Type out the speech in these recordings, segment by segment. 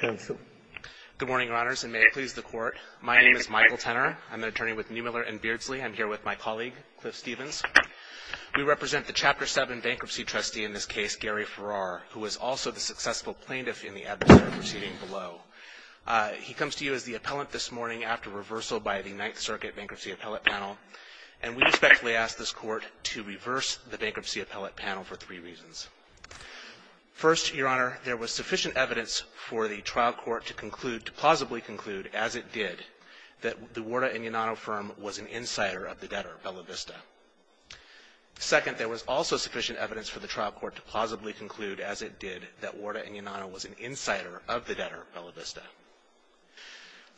Good morning, Your Honors, and may it please the Court, my name is Michael Tenor. I'm an attorney with Neumiller and Beardsley. I'm here with my colleague Cliff Stevens. We represent the Chapter 7 bankruptcy trustee in this case, Gary Farrar, who was also the successful plaintiff in the adversary proceeding below. He comes to you as the appellant this morning after reversal by the Ninth Circuit Bankruptcy Appellate Panel, and we respectfully ask this Court to reverse the Bankruptcy Appellate Panel for three reasons. First, Your Honor, there was sufficient evidence for the trial court to conclude, to plausibly conclude, as it did, that the Warda Ignanato firm was an insider of the debtor, Bella Vista. Second, there was also sufficient evidence for the trial court to plausibly conclude, as it did, that Warda Ignanato was an insider of the debtor, Bella Vista.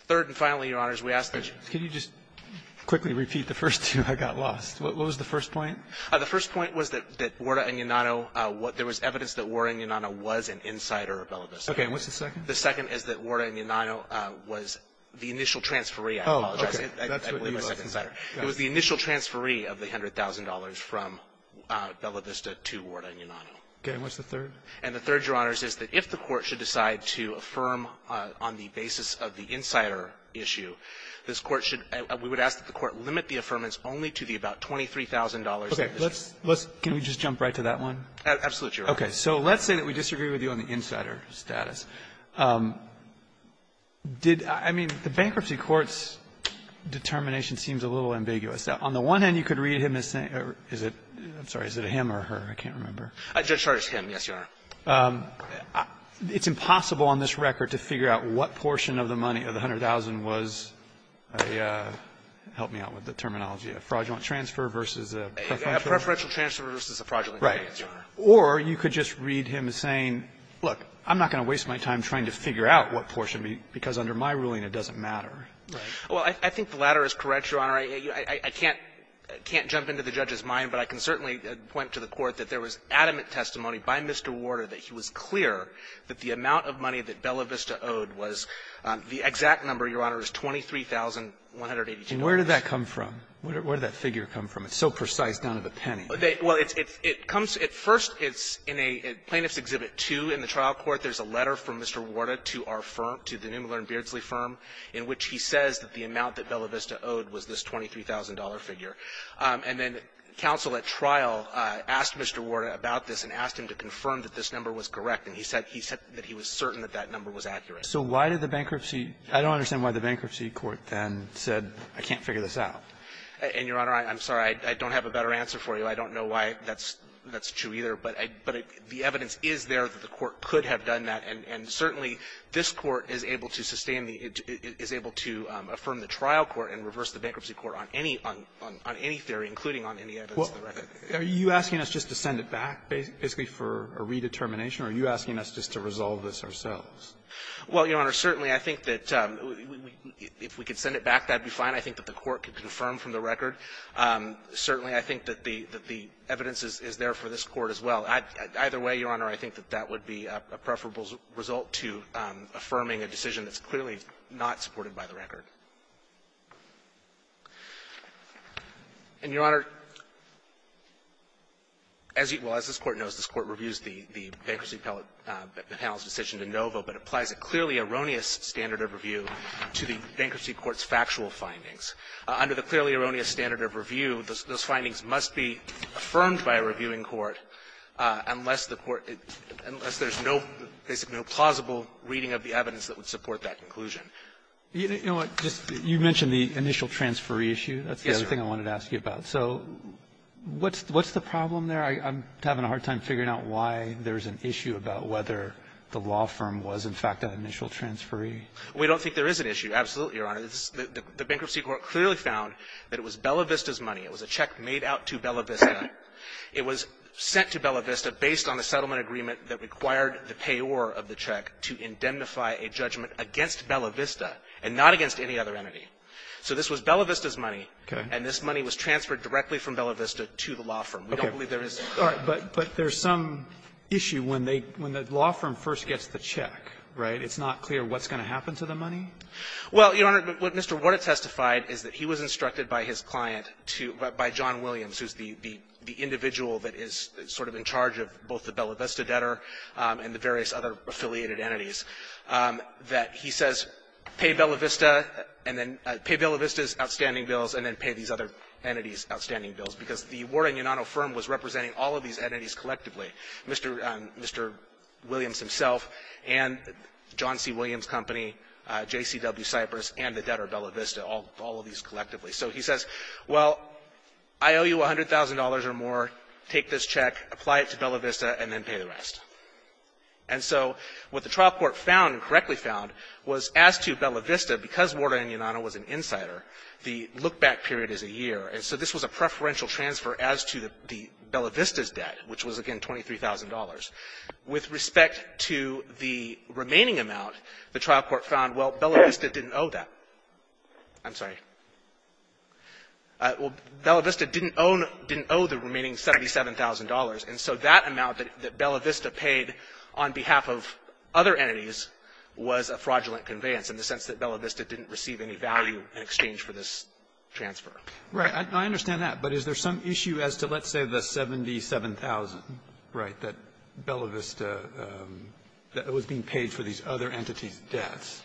Third, and finally, Your Honors, we ask that you Can you just quickly repeat the first two? I got lost. What was the first point? The first point was that Warda Ignanato, there was evidence that Warda Ignanato was an insider of Bella Vista. Okay. And what's the second? The second is that Warda Ignanato was the initial transferee. I apologize. Oh, okay. I believe I said insider. It was the initial transferee of the $100,000 from Bella Vista to Warda Ignanato. Okay. And what's the third? And the third, Your Honors, is that if the Court should decide to affirm on the basis of the insider issue, this Court should we would ask that the Court limit the affirmance only to the about $23,000 issue. Okay. Let's Can we just jump right to that one? Absolutely, Your Honor. Okay. So let's say that we disagree with you on the insider status. Did, I mean, the Bankruptcy Court's determination seems a little ambiguous. On the one hand, you could read him as saying, is it, I'm sorry, is it a him or her? I can't remember. Judge Chardas, him. Yes, Your Honor. It's impossible on this record to figure out what portion of the money of the $100,000 was a, help me out with the terminology, a fraudulent transfer versus a preferential transfer versus a fraudulent transfer. Or you could just read him as saying, look, I'm not going to waste my time trying to figure out what portion, because under my ruling, it doesn't matter. Well, I think the latter is correct, Your Honor. I can't jump into the judge's mind, but I can certainly point to the Court that there was adamant testimony by Mr. Warder that he was clear that the amount of money that Bella Vista owed was, the exact number, Your Honor, is $23,182. And where did that come from? Where did that figure come from? It's so precise, none of a penny. Well, it comes, at first, it's in a, Plaintiff's Exhibit 2 in the trial court. There's a letter from Mr. Warder to our firm, to the Neumuller and Beardsley firm, in which he says that the amount that Bella Vista owed was this $23,000 figure. And then counsel at trial asked Mr. Warder about this and asked him to confirm that this number was correct, and he said he said that he was certain that that number was accurate. So why did the bankruptcy, I don't understand why the bankruptcy court then said, I can't figure this out. And, Your Honor, I'm sorry, I don't have a better answer for you. I don't know why that's true, either. But the evidence is there that the court could have done that. And certainly, this Court is able to sustain the, is able to affirm the trial court and reverse the bankruptcy court on any theory, including on any evidence of the record. Are you asking us just to send it back, basically, for a redetermination, or are you asking us just to resolve this ourselves? Well, Your Honor, certainly I think that if we could send it back, that would be fine. I think that the court could confirm from the record. Certainly, I think that the evidence is there for this Court as well. Either way, Your Honor, I think that that would be a preferable result to affirming a decision that's clearly not supported by the record. And, Your Honor, as you know, as this Court knows, this Court reviews the bankruptcy panel's decision in Novo, but applies a clearly erroneous standard of review to the findings. Under the clearly erroneous standard of review, those findings must be affirmed by a reviewing court unless the court, unless there's no plausible reading of the evidence that would support that conclusion. You know what, you mentioned the initial transferee issue. That's the other thing I wanted to ask you about. So what's the problem there? I'm having a hard time figuring out why there's an issue about whether the law firm was, in fact, an initial transferee. We don't think there is an issue, absolutely, Your Honor. The bankruptcy court clearly found that it was Bella Vista's money. It was a check made out to Bella Vista. It was sent to Bella Vista based on a settlement agreement that required the payor of the check to indemnify a judgment against Bella Vista and not against any other entity. So this was Bella Vista's money. And this money was transferred directly from Bella Vista to the law firm. We don't believe there is an issue. Robertson, But there's some issue when they, when the law firm first gets the check, right? It's not clear what's going to happen to the money? Well, Your Honor, what Mr. Warta testified is that he was instructed by his client to, by John Williams, who's the individual that is sort of in charge of both the Bella Vista debtor and the various other affiliated entities, that he says, pay Bella Vista and then, pay Bella Vista's outstanding bills and then pay these other entities' outstanding bills. Because the Warta and Yonato firm was representing all of these entities collectively, Mr. Williams himself and John C. Williams' company, JCW Cypress, and the debtor Bella Vista, all of these collectively. So he says, well, I owe you $100,000 or more, take this check, apply it to Bella Vista and then pay the rest. And so what the trial court found, correctly found, was as to Bella Vista, because Warta and Yonato was an insider, the look-back period is a year. And so this was a preferential transfer as to the Bella Vista's debt, which was, again, $23,000. With respect to the remaining amount, the trial court found, well, Bella Vista didn't owe that. I'm sorry. Well, Bella Vista didn't own or didn't owe the remaining $77,000. And so that amount that Bella Vista paid on behalf of other entities was a fraudulent conveyance in the sense that Bella Vista didn't receive any value in exchange for this transfer. Roberts, I understand that. But is there some issue as to, let's say, the $77,000, right, that Bella Vista was being paid for these other entities' debts?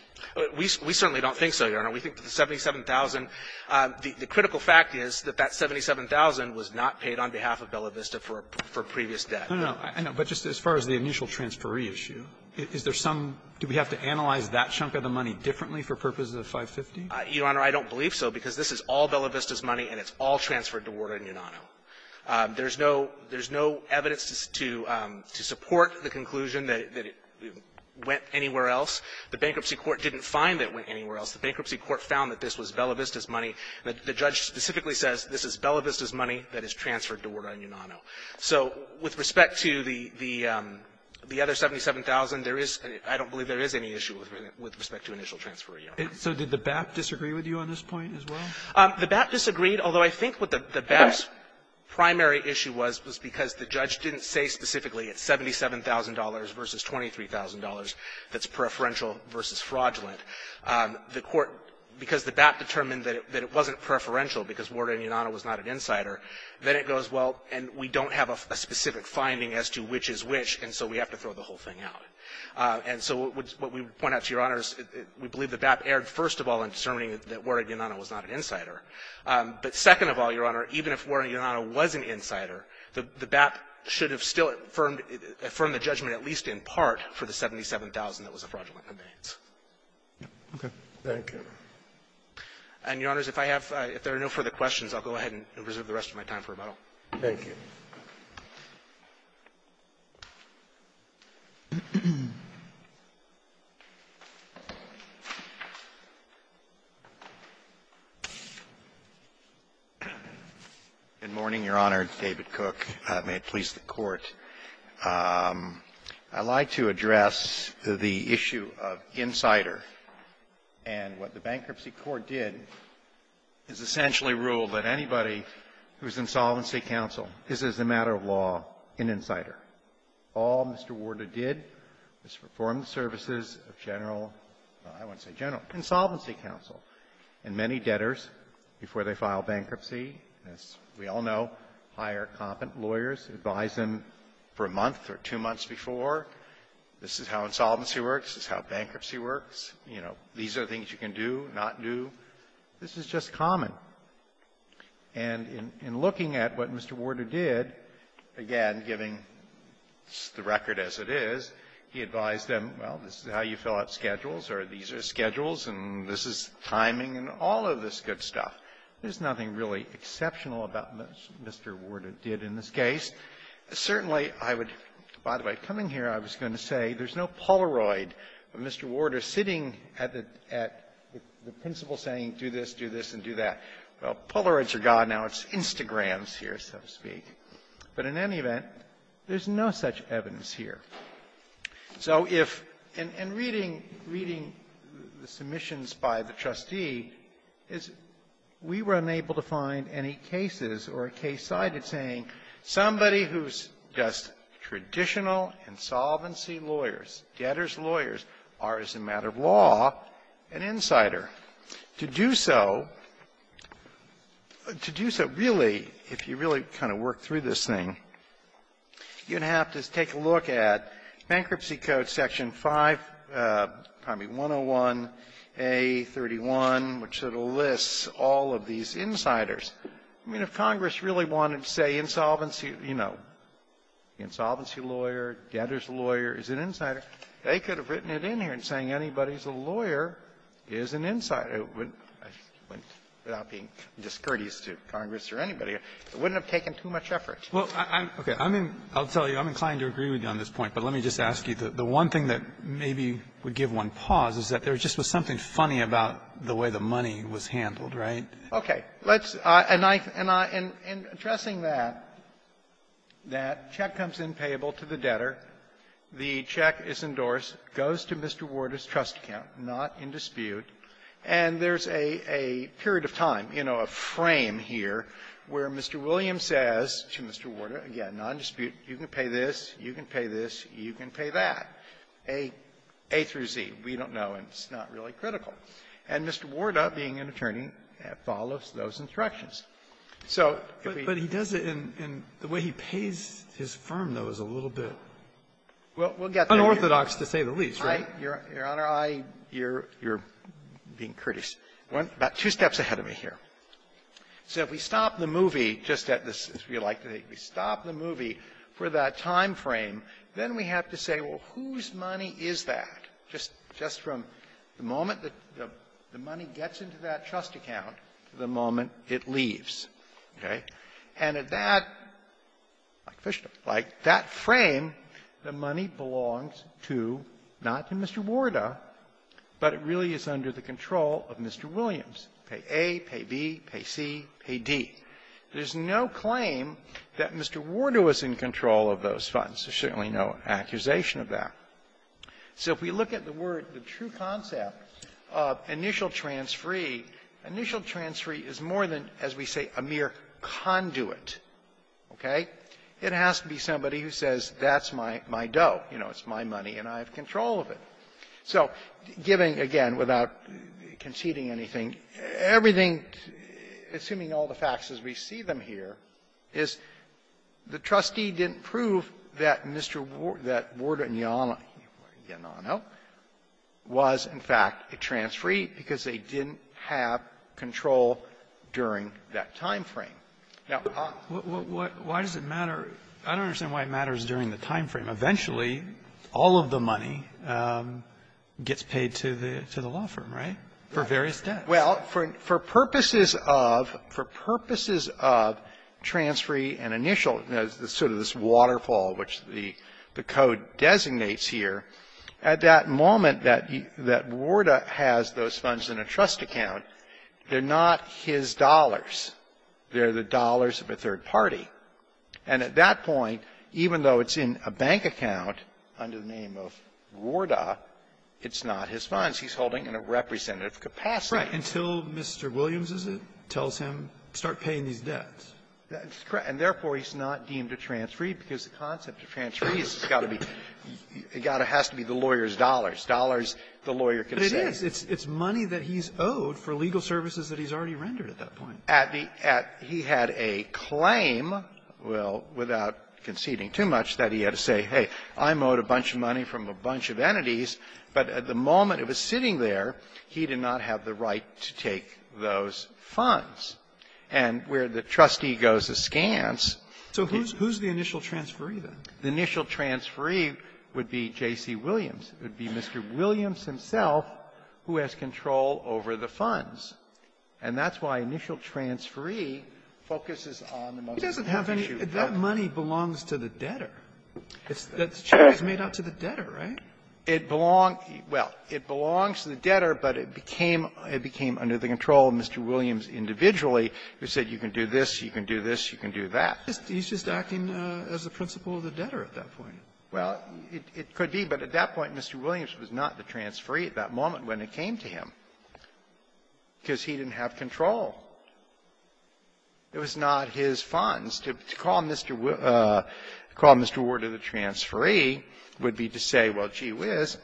We certainly don't think so, Your Honor. We think that the $77,000, the critical fact is that that $77,000 was not paid on behalf of Bella Vista for previous debt. No, no. I know. But just as far as the initial transferee issue, is there some do we have to analyze that chunk of the money differently for purposes of 550? Your Honor, I don't believe so, because this is all Bella Vista's money, and it's all transferred to Warder and Unano. There's no evidence to support the conclusion that it went anywhere else. The bankruptcy court didn't find that it went anywhere else. The bankruptcy court found that this was Bella Vista's money. The judge specifically says this is Bella Vista's money that is transferred to Warder and Unano. So with respect to the other $77,000, there is an – I don't believe there is any issue with respect to initial transfer, Your Honor. So did the BAP disagree with you on this point as well? The BAP disagreed, although I think what the BAP's primary issue was, was because the judge didn't say specifically it's $77,000 versus $23,000 that's preferential versus fraudulent. The court, because the BAP determined that it wasn't preferential because Warder and Unano was not an insider, then it goes, well, and we don't have a specific finding as to which is which, and so we have to throw the whole thing out. And so what we point out to Your Honors, we believe the BAP erred, first of all, in determining that Warder and Unano was not an insider. But second of all, Your Honor, even if Warder and Unano was an insider, the BAP should have still affirmed the judgment at least in part for the $77,000 that was a fraudulent conveyance. Okay. Thank you. And, Your Honors, if I have – if there are no further questions, I'll go ahead and reserve the rest of my time for rebuttal. Thank you. Good morning, Your Honor. It's David Cook. May it please the Court. I'd like to address the issue of insider. And what the Bankruptcy Court did is essentially rule that anybody who is in Solvency Counsel is, as a matter of law, an insider. All Mr. Warder did was perform the services of General – I won't say General, Insolvency Counsel. And many debtors, before they file bankruptcy, as we all know, hire competent lawyers, advise them for a month or two months before, this is how insolvency works, this is how bankruptcy works, you know, these are things you can do, not do. This is just common. And in looking at what Mr. Warder did, again, giving the record as it is, he advised them, well, this is how you fill out schedules, or these are schedules, and this is timing, and all of this good stuff. There's nothing really exceptional about what Mr. Warder did in this case. Certainly, I would – by the way, coming here, I was going to say there's no Polaroid of Mr. Warder sitting at the – at the principal saying, do this, do this, and do that. Well, Polaroids are gone. Now it's Instagrams here, so to speak. But in any event, there's no such evidence here. So if – and reading – reading the submissions by the trustee, is we were unable to find any cases or a case cited saying somebody who's just traditional insolvency lawyers, debtor's lawyers, are, as a matter of law, an insider. To do so – to do so really, if you really kind of work through this thing, you're going to have to take a look at Bankruptcy Code Section 5 – pardon me, 101A31, which sort of lists all of these insiders. I mean, if Congress really wanted to say insolvency, you know, insolvency lawyer, debtor's lawyer is an insider, they could have written it in here and saying anybody who's a lawyer is an insider without being discourteous to Congress or anybody. It wouldn't have taken too much effort. Well, I'm – okay. I mean, I'll tell you, I'm inclined to agree with you on this point. But let me just ask you, the one thing that maybe would give one pause is that there just was something funny about the way the money was handled, right? Okay. Let's – and I – and in addressing that, that check comes in payable to the debtor. The check is endorsed, goes to Mr. Warda's trust account, not in dispute. And there's a – a period of time, you know, a frame here where Mr. Williams says to Mr. Warda, again, non-dispute, you can pay this, you can pay this, you can pay that, A through Z. We don't know, and it's not really critical. And Mr. Warda, being an attorney, follows those instructions. So if we don't But he does it in – in the way he pays his firm, though, is a little bit unorthodox, to say the least, right? Your Honor, I – you're – you're being courteous. About two steps ahead of me here. So if we stop the movie just at this, as we like to say, we stop the movie for that time frame, then we have to say, well, whose money is that, just – just from the moment that the – the money gets into that trust account to the moment it leaves, okay? And at that, like Fishta, like that frame, the money belongs to, not to Mr. Warda, but it really is under the control of Mr. Williams. Pay A, pay B, pay C, pay D. There's no claim that Mr. Warda was in control of those funds. There's certainly no accusation of that. So if we look at the word, the true concept of initial transferee, initial transferee is more than, as we say, a mere conduit, okay? It has to be somebody who says, that's my doe. You know, it's my money, and I have control of it. So giving, again, without conceding anything, everything, assuming all the facts as we see them here, is the money was, in fact, a transferee because they didn't have control during that timeframe. Now, I — Why does it matter? I don't understand why it matters during the timeframe. Eventually, all of the money gets paid to the law firm, right, for various debts. Well, for purposes of – for purposes of transferee and initial, sort of this waterfall which the code designates here, at that moment that Warda has those funds in a trust account, they're not his dollars. They're the dollars of a third party. And at that point, even though it's in a bank account under the name of Warda, it's not his funds. He's holding in a representative capacity. Right. Until Mr. Williams, is it, tells him, start paying these debts. That's correct. And therefore, he's not deemed a transferee because the concept of transferees has got to be – it has to be the lawyer's dollars, dollars the lawyer can save. But it is. It's money that he's owed for legal services that he's already rendered at that point. At the – he had a claim, well, without conceding too much, that he had to say, hey, I'm owed a bunch of money from a bunch of entities. But at the moment it was sitting there, he did not have the right to take those funds. And where the trustee goes askance – So who's the initial transferee, then? The initial transferee would be J.C. Williams. It would be Mr. Williams himself who has control over the funds. And that's why initial transferee focuses on the most important issue. He doesn't have any – that money belongs to the debtor. It's the – The check was made out to the debtor, right? It belonged – well, it belongs to the debtor, but it became – it became under the control of Mr. Williams individually, who said you can do this, you can do this, you can do that. He's just acting as the principal of the debtor at that point. Well, it could be. But at that point, Mr. Williams was not the transferee at that moment when it came to him because he didn't have control. It was not his funds. To call Mr. – call Mr. Ward the transferee would be to say, well, gee whiz,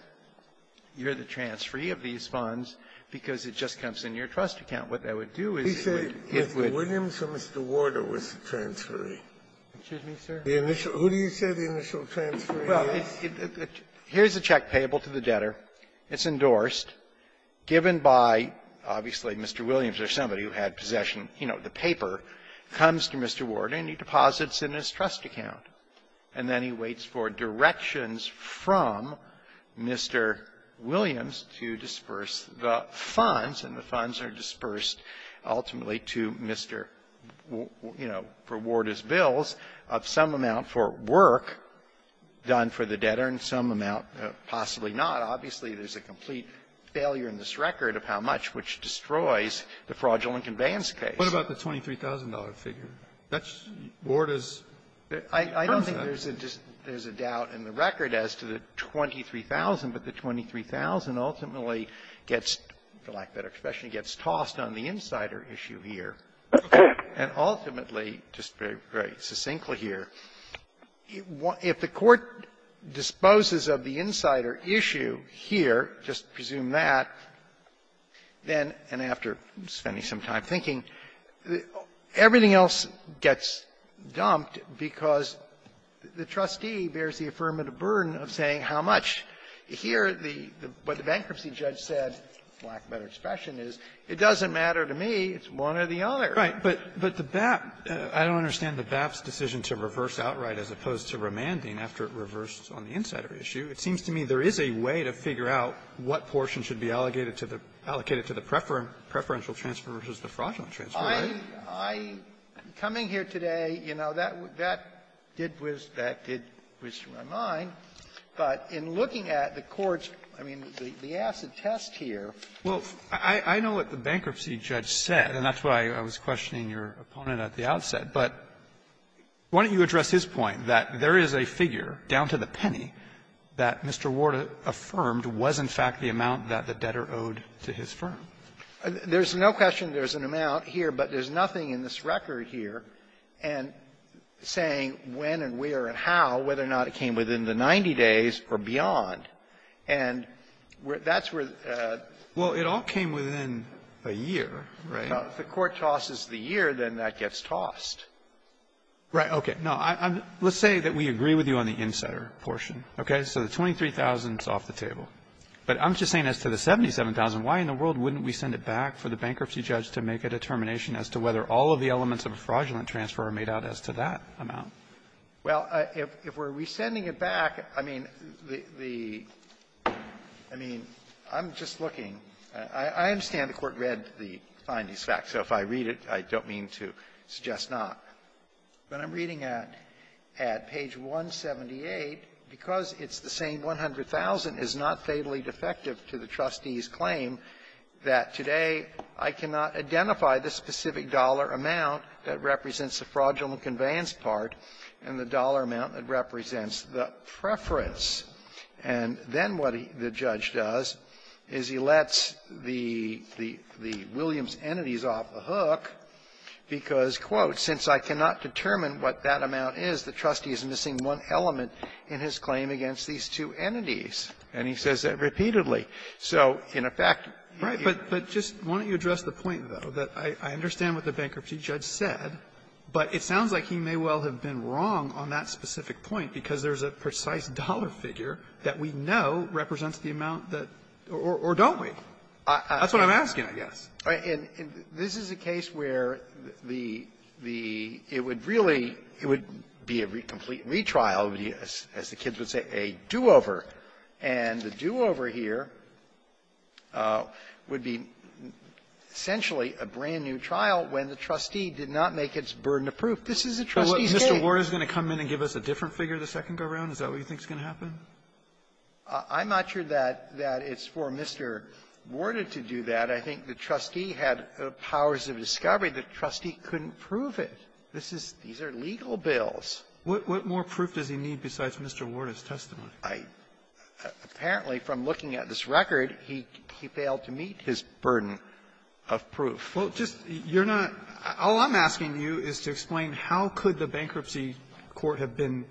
you're the transferee of these funds because it just comes in your trust account. What that would do is it would – He said if the Williams or Mr. Warder was the transferee. Excuse me, sir? The initial – who do you say the initial transferee is? Well, it's – here's a check payable to the debtor. It's endorsed, given by, obviously, Mr. Williams or somebody who had possession – you know, the paper comes to Mr. Warder, and he deposits in his trust account. And then he waits for directions from Mr. Williams to disperse the funds, and the funds are dispersed ultimately to Mr. – you know, for Warder's bills of some amount for work done for the debtor and some amount possibly not. Obviously, there's a complete failure in this record of how much, which destroys the fraudulent conveyance case. What about the $23,000 figure? That's Warder's – I don't think there's a doubt in the record as to the $23,000, but the $23,000 ultimately gets, for lack of a better expression, gets tossed on the insider issue here, and ultimately, just very, very succinctly here, if the Court disposes of the insider issue here, just presume that, then – and after spending some time thinking, everything else gets dumped because the trustee bears the affirmative burden of saying how much. Here, the – what the bankruptcy judge said, for lack of a better expression, is, it doesn't matter to me. It's one or the other. Phillips. But the BAP – I don't understand the BAP's decision to reverse outright as opposed to remanding after it reversed on the insider issue. It seems to me there is a way to figure out what portion should be allocated to the – allocated to the preferential transfer versus the fraudulent transfer. I'm coming here today, you know, that did whiz – that did whiz through my mind. But in looking at the Court's – I mean, the acid test here – Robertson. Well, I know what the bankruptcy judge said, and that's why I was questioning your opponent at the outset. But why don't you address his point that there is a figure down to the penny that Mr. Ward affirmed was, in fact, the amount that the debtor owed to his firm? There's no question there's an amount here, but there's nothing in this record here saying when and where and how, whether or not it came within the 90 days or beyond. And that's where the – Well, it all came within a year, right? If the Court tosses the year, then that gets tossed. Right. Okay. No, I'm – let's say that we agree with you on the insetter portion, okay? So the $23,000 is off the table. But I'm just saying as to the $77,000, why in the world wouldn't we send it back for the bankruptcy judge to make a determination as to whether all of the elements of a fraudulent transfer are made out as to that amount? Well, if we're resending it back, I mean, the – I mean, I'm just looking. I understand the Court read the findings back. So if I read it, I don't mean to suggest not. But I'm reading it at page 178. Because it's the same 100,000 is not fatally defective to the trustee's claim that today I cannot identify the specific dollar amount that represents the fraudulent conveyance part and the dollar amount that represents the preference. And then what the judge does is he lets the – the Williams entities off the hook because, quote, since I cannot determine what that amount is, the trustee is missing one element in his claim against these two entities. And he says that repeatedly. So, in effect, he – Right. But just why don't you address the point, though, that I understand what the bankruptcy judge said, but it sounds like he may well have been wrong on that specific point, because there's a precise dollar figure that we know represents the amount that – or don't we? That's what I'm asking, I guess. And this is a case where the – the – it would really – it would be a complete retrial, as the kids would say, a do-over. And the do-over here would be essentially a brand-new trial when the trustee did not This is the trustee's claim. Mr. Warta is going to come in and give us a different figure the second go-round? Is that what you think is going to happen? I'm not sure that – that it's for Mr. Warta to do that. I think the trustee had powers of discovery. The trustee couldn't prove it. This is – these are legal bills. What more proof does he need besides Mr. Warta's testimony? I – apparently, from looking at this record, he failed to meet his burden of proof. Well, just – you're not – all I'm asking you is to explain how could the bankruptcy court have been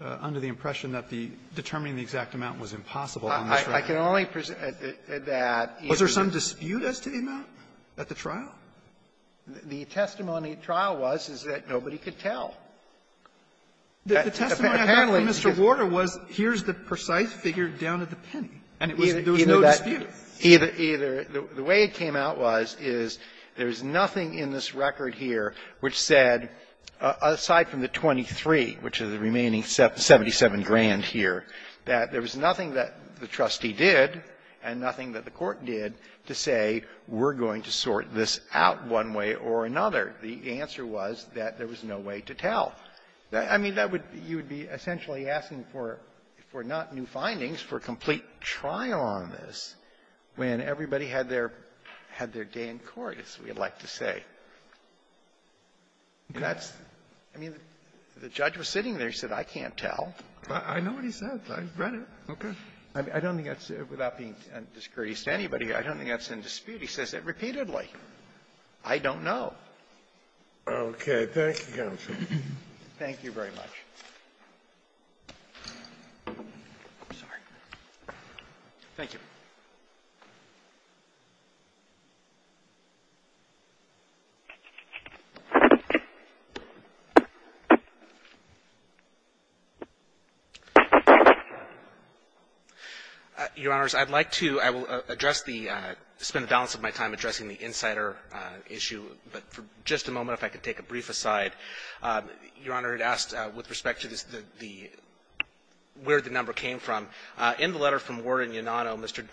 under the impression that the – determining the exact amount was impossible on this record. I can only – that if the – Was there some dispute as to the amount at the trial? The testimony at trial was, is that nobody could tell. The testimony I had from Mr. Warta was, here's the precise figure down at the penny. And it was – there was no dispute. Either – either – the way it came out was, is there's nothing in this record here which said, aside from the 23, which is the remaining 77 grand here, that there was nothing that the trustee did and nothing that the court did to say, we're going to sort this out one way or another. The answer was that there was no way to tell. I mean, that would – you would be essentially asking for – for not new findings, for complete trial on this, when everybody had their – had their day in court, as we would like to say. That's – I mean, the judge was sitting there. He said, I can't tell. I know what he said. I read it. Okay. I don't think that's – without being discourteous to anybody, I don't think that's in dispute. He says it repeatedly. I don't know. Okay. Thank you, counsel. Thank you very much. I'm sorry. Thank you. Your Honors, I'd like to – I will address the – spend the balance of my time addressing the insider issue, but for just a moment, if I could take a brief aside. Your Honor, it asks with respect to the – where the number came from. In the letter from Ward and Yonano, Mr.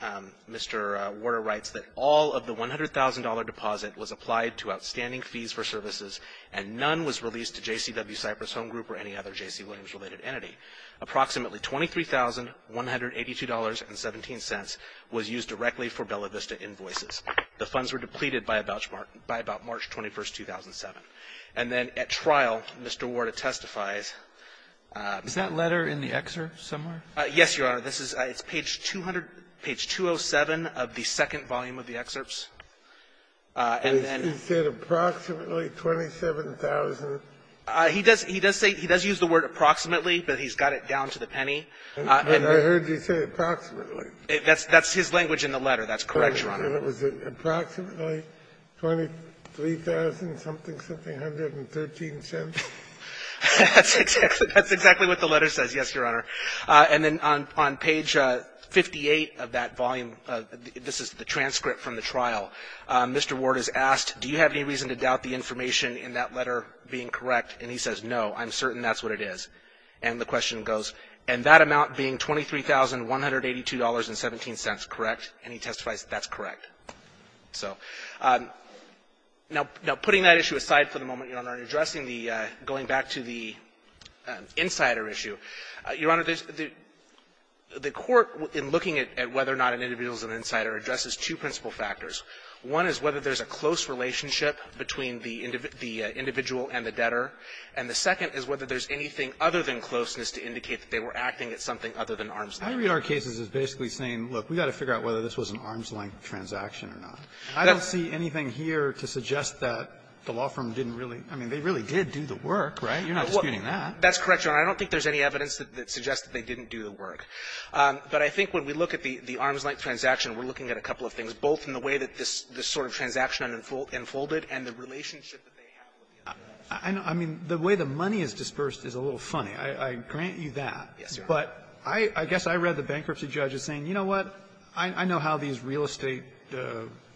– Mr. Warder writes that all of the $100,000 deposit was applied to outstanding fees for services, and none was released to JCW Cypress Home Group or any other J.C. Williams-related entity. Approximately $23,182.17 was used directly for Bella Vista invoices. The funds were depleted by about – by about March 21, 2007. And then at trial, Mr. Warder testifies – Is that letter in the excerpt somewhere? Yes, Your Honor. This is – it's page 200 – page 207 of the second volume of the excerpts. And then – He said approximately $27,000. He does – he does say – he does use the word approximately, but he's got it down to the penny. And I heard you say approximately. That's – that's his language in the letter. That's correct, Your Honor. And it was approximately $23,000-something, something, 113 cents? That's exactly – that's exactly what the letter says, yes, Your Honor. And then on – on page 58 of that volume, this is the transcript from the trial, Mr. Warder is asked, do you have any reason to doubt the information in that letter being correct? And he says, no, I'm certain that's what it is. And the question goes, and that amount being $23,182.17, correct? And he testifies that that's correct. So now – now, putting that issue aside for the moment, Your Honor, and addressing the – going back to the insider issue, Your Honor, the – the court, in looking at whether or not an individual is an insider, addresses two principal factors. One is whether there's a close relationship between the individual and the debtor. And the second is whether there's anything other than closeness to indicate that they were acting at something other than arm's length. Alitoso, I read our cases as basically saying, look, we've got to figure out whether this was an arm's length transaction or not. I don't see anything here to suggest that the law firm didn't really – I mean, they really did do the work, right? You're not disputing that. That's correct, Your Honor. I don't think there's any evidence that suggests that they didn't do the work. But I think when we look at the – the arm's length transaction, we're looking at a couple of things, both in the way that this – this sort of transaction unfolded and the relationship that they have with the other. I know. I mean, the way the money is dispersed is a little funny. I grant you that. Yes, Your Honor. But I guess I read the bankruptcy judge as saying, you know what, I know how these real estate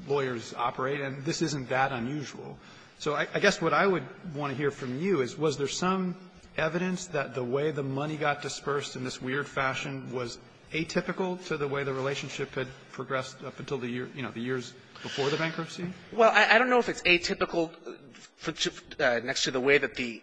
lawyers operate, and this isn't that unusual. So I guess what I would want to hear from you is, was there some evidence that the way the money got dispersed in this weird fashion was atypical to the way the relationship had progressed up until the years before the bankruptcy? Well, I don't know if it's atypical next to the way that the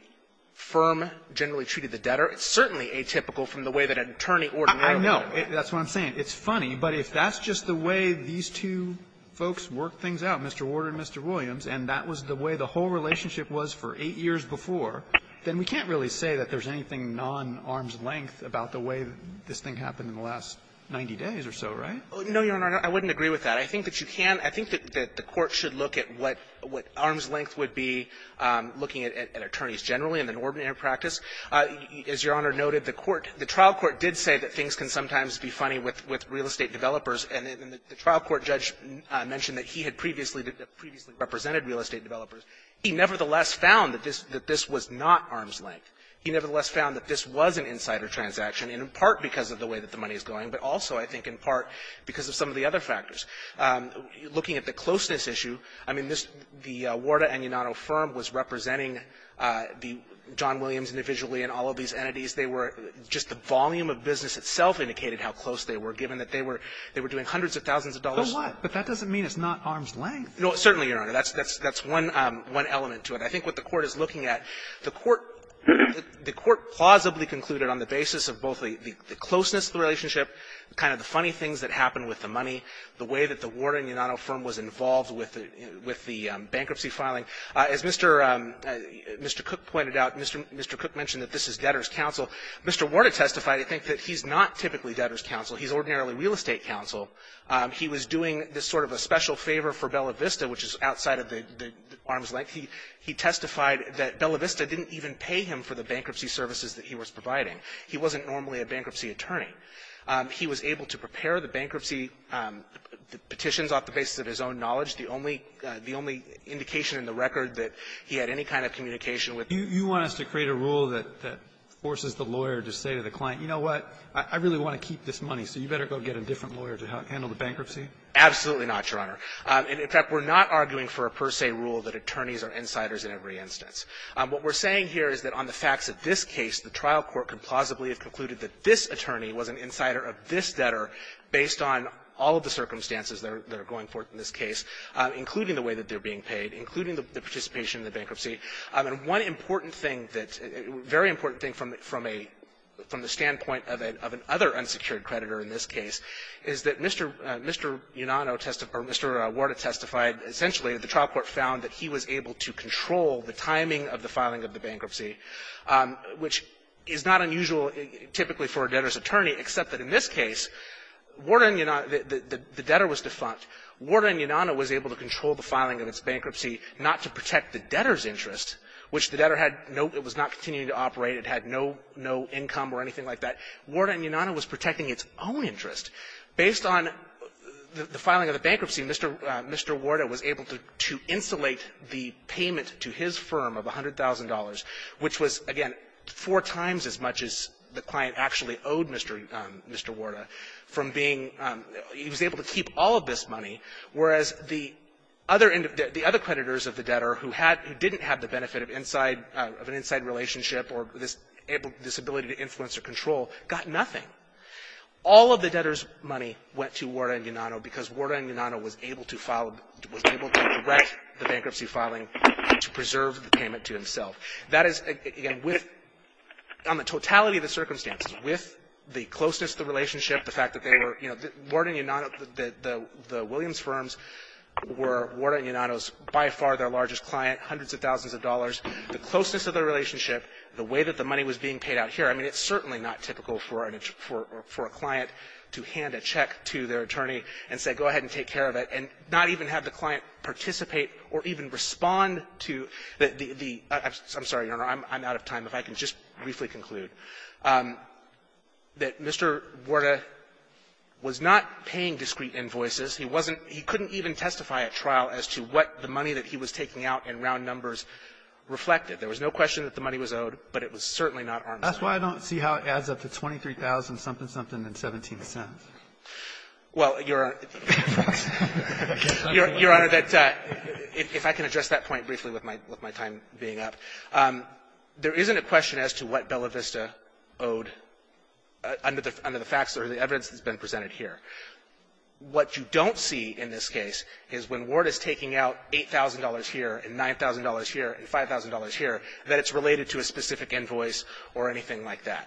firm generally treated the debtor. It's certainly atypical from the way that an attorney ordinarily would do it. I know. That's what I'm saying. It's funny. But if that's just the way these two folks worked things out, Mr. Warder and Mr. Williams, and that was the way the whole relationship was for eight years before, then we can't really say that there's anything nonarm's length about the way this thing happened in the last 90 days or so, right? No, Your Honor. I wouldn't agree with that. I think that you can. I think that the Court should look at what – what arm's length would be, looking at attorneys generally and the normative practice. As Your Honor noted, the court – the trial court did say that things can sometimes be funny with real estate developers, and the trial court judge mentioned that he had previously – that previously represented real estate developers. He nevertheless found that this was not arm's length. He nevertheless found that this was an insider transaction, in part because of the way that the money is going, but also, I think, in part because of some of the other factors. Looking at the closeness issue, I mean, this – the Warder and Unato firm was representing the – John Williams individually and all of these entities. They were – just the volume of business itself indicated how close they were, given that they were – they were doing hundreds of thousands of dollars. But that doesn't mean it's not arm's length. No, certainly, Your Honor. That's – that's one element to it. I think what the Court is looking at, the Court – the Court plausibly concluded on the basis of both the closeness of the relationship, kind of the funny things that happened with the money, the way that the Warder and Unato firm was involved with the – with the bankruptcy filing. As Mr. – Mr. Cook pointed out, Mr. – Mr. Cook mentioned that this is debtor's counsel. Mr. Warder testified, I think, that he's not typically debtor's counsel. He's ordinarily real estate counsel. He was doing this sort of a special favor for Bella Vista, which is outside of the arm's length. He – he testified that Bella Vista didn't even pay him for the bankruptcy services that he was providing. He wasn't normally a bankruptcy attorney. He was able to prepare the bankruptcy petitions off the basis of his own knowledge, the only – the only indication in the record that he had any kind of communication with the debtor. You want us to create a rule that – that forces the lawyer to say to the client, you know what, I really want to keep this money, so you better go get a different lawyer to handle the bankruptcy? Absolutely not, Your Honor. In fact, we're not arguing for a per se rule that attorneys are insiders in every instance. What we're saying here is that on the facts of this case, the trial court could plausibly have concluded that this attorney was an insider of this debtor based on all of the circumstances that are – that are going forth in this case, including the way that they're being paid, including the participation in the bankruptcy. And one important thing that – very important thing from a – from the standpoint of an – of an other unsecured creditor in this case is that Mr. – Mr. Unano testified – or Mr. Warda testified, essentially, that the trial court found that he was able to control the timing of the filing of the bankruptcy, which is not unusual typically for a debtor's attorney, except that in this case, Warda and Unano – the debtor was defunct. Warda and Unano was able to control the filing of its bankruptcy not to protect the debtor's interest, which the debtor had no – it was not continuing to operate. It had no – no income or anything like that. Warda and Unano was protecting its own interest. Based on the filing of the bankruptcy, Mr. – Mr. Warda was able to – to insulate the payment to his firm of $100,000, which was, again, four times as much as Mr. Unano owed Mr. – Mr. Warda from being – he was able to keep all of this money, whereas the other – the other creditors of the debtor who had – who didn't have the benefit of inside – of an inside relationship or this – this ability to influence or control got nothing. All of the debtor's money went to Warda and Unano because Warda and Unano was able to file – was able to direct the bankruptcy filing to preserve the payment to himself. That is, again, with – on the totality of the circumstances, with the closeness of the relationship, the fact that they were – you know, Warda and Unano, the – the Williams firms were Warda and Unano's by far their largest client, hundreds of thousands of dollars. The closeness of the relationship, the way that the money was being paid out here, I mean, it's certainly not typical for a – for a client to hand a check to their attorney and say, go ahead and take care of it, and not even have the client participate or even respond to the – the – I'm sorry, Your Honor, I'm out of time. If I can just briefly conclude that Mr. Warda was not paying discrete invoices. He wasn't – he couldn't even testify at trial as to what the money that he was taking out in round numbers reflected. There was no question that the money was owed, but it was certainly not arm's length. That's why I don't see how it adds up to $23,000-something-something and $0.17. Well, Your Honor, if I can address that point briefly with my time being up. There isn't a question as to what Bella Vista owed under the facts or the evidence that's been presented here. What you don't see in this case is when Warda's taking out $8,000 here and $9,000 here and $5,000 here, that it's related to a specific invoice or anything like that.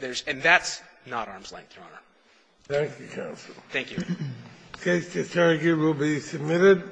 There's – and that's not arm's length, Your Honor. Thank you, counsel. Thank you. The case to argue will be submitted.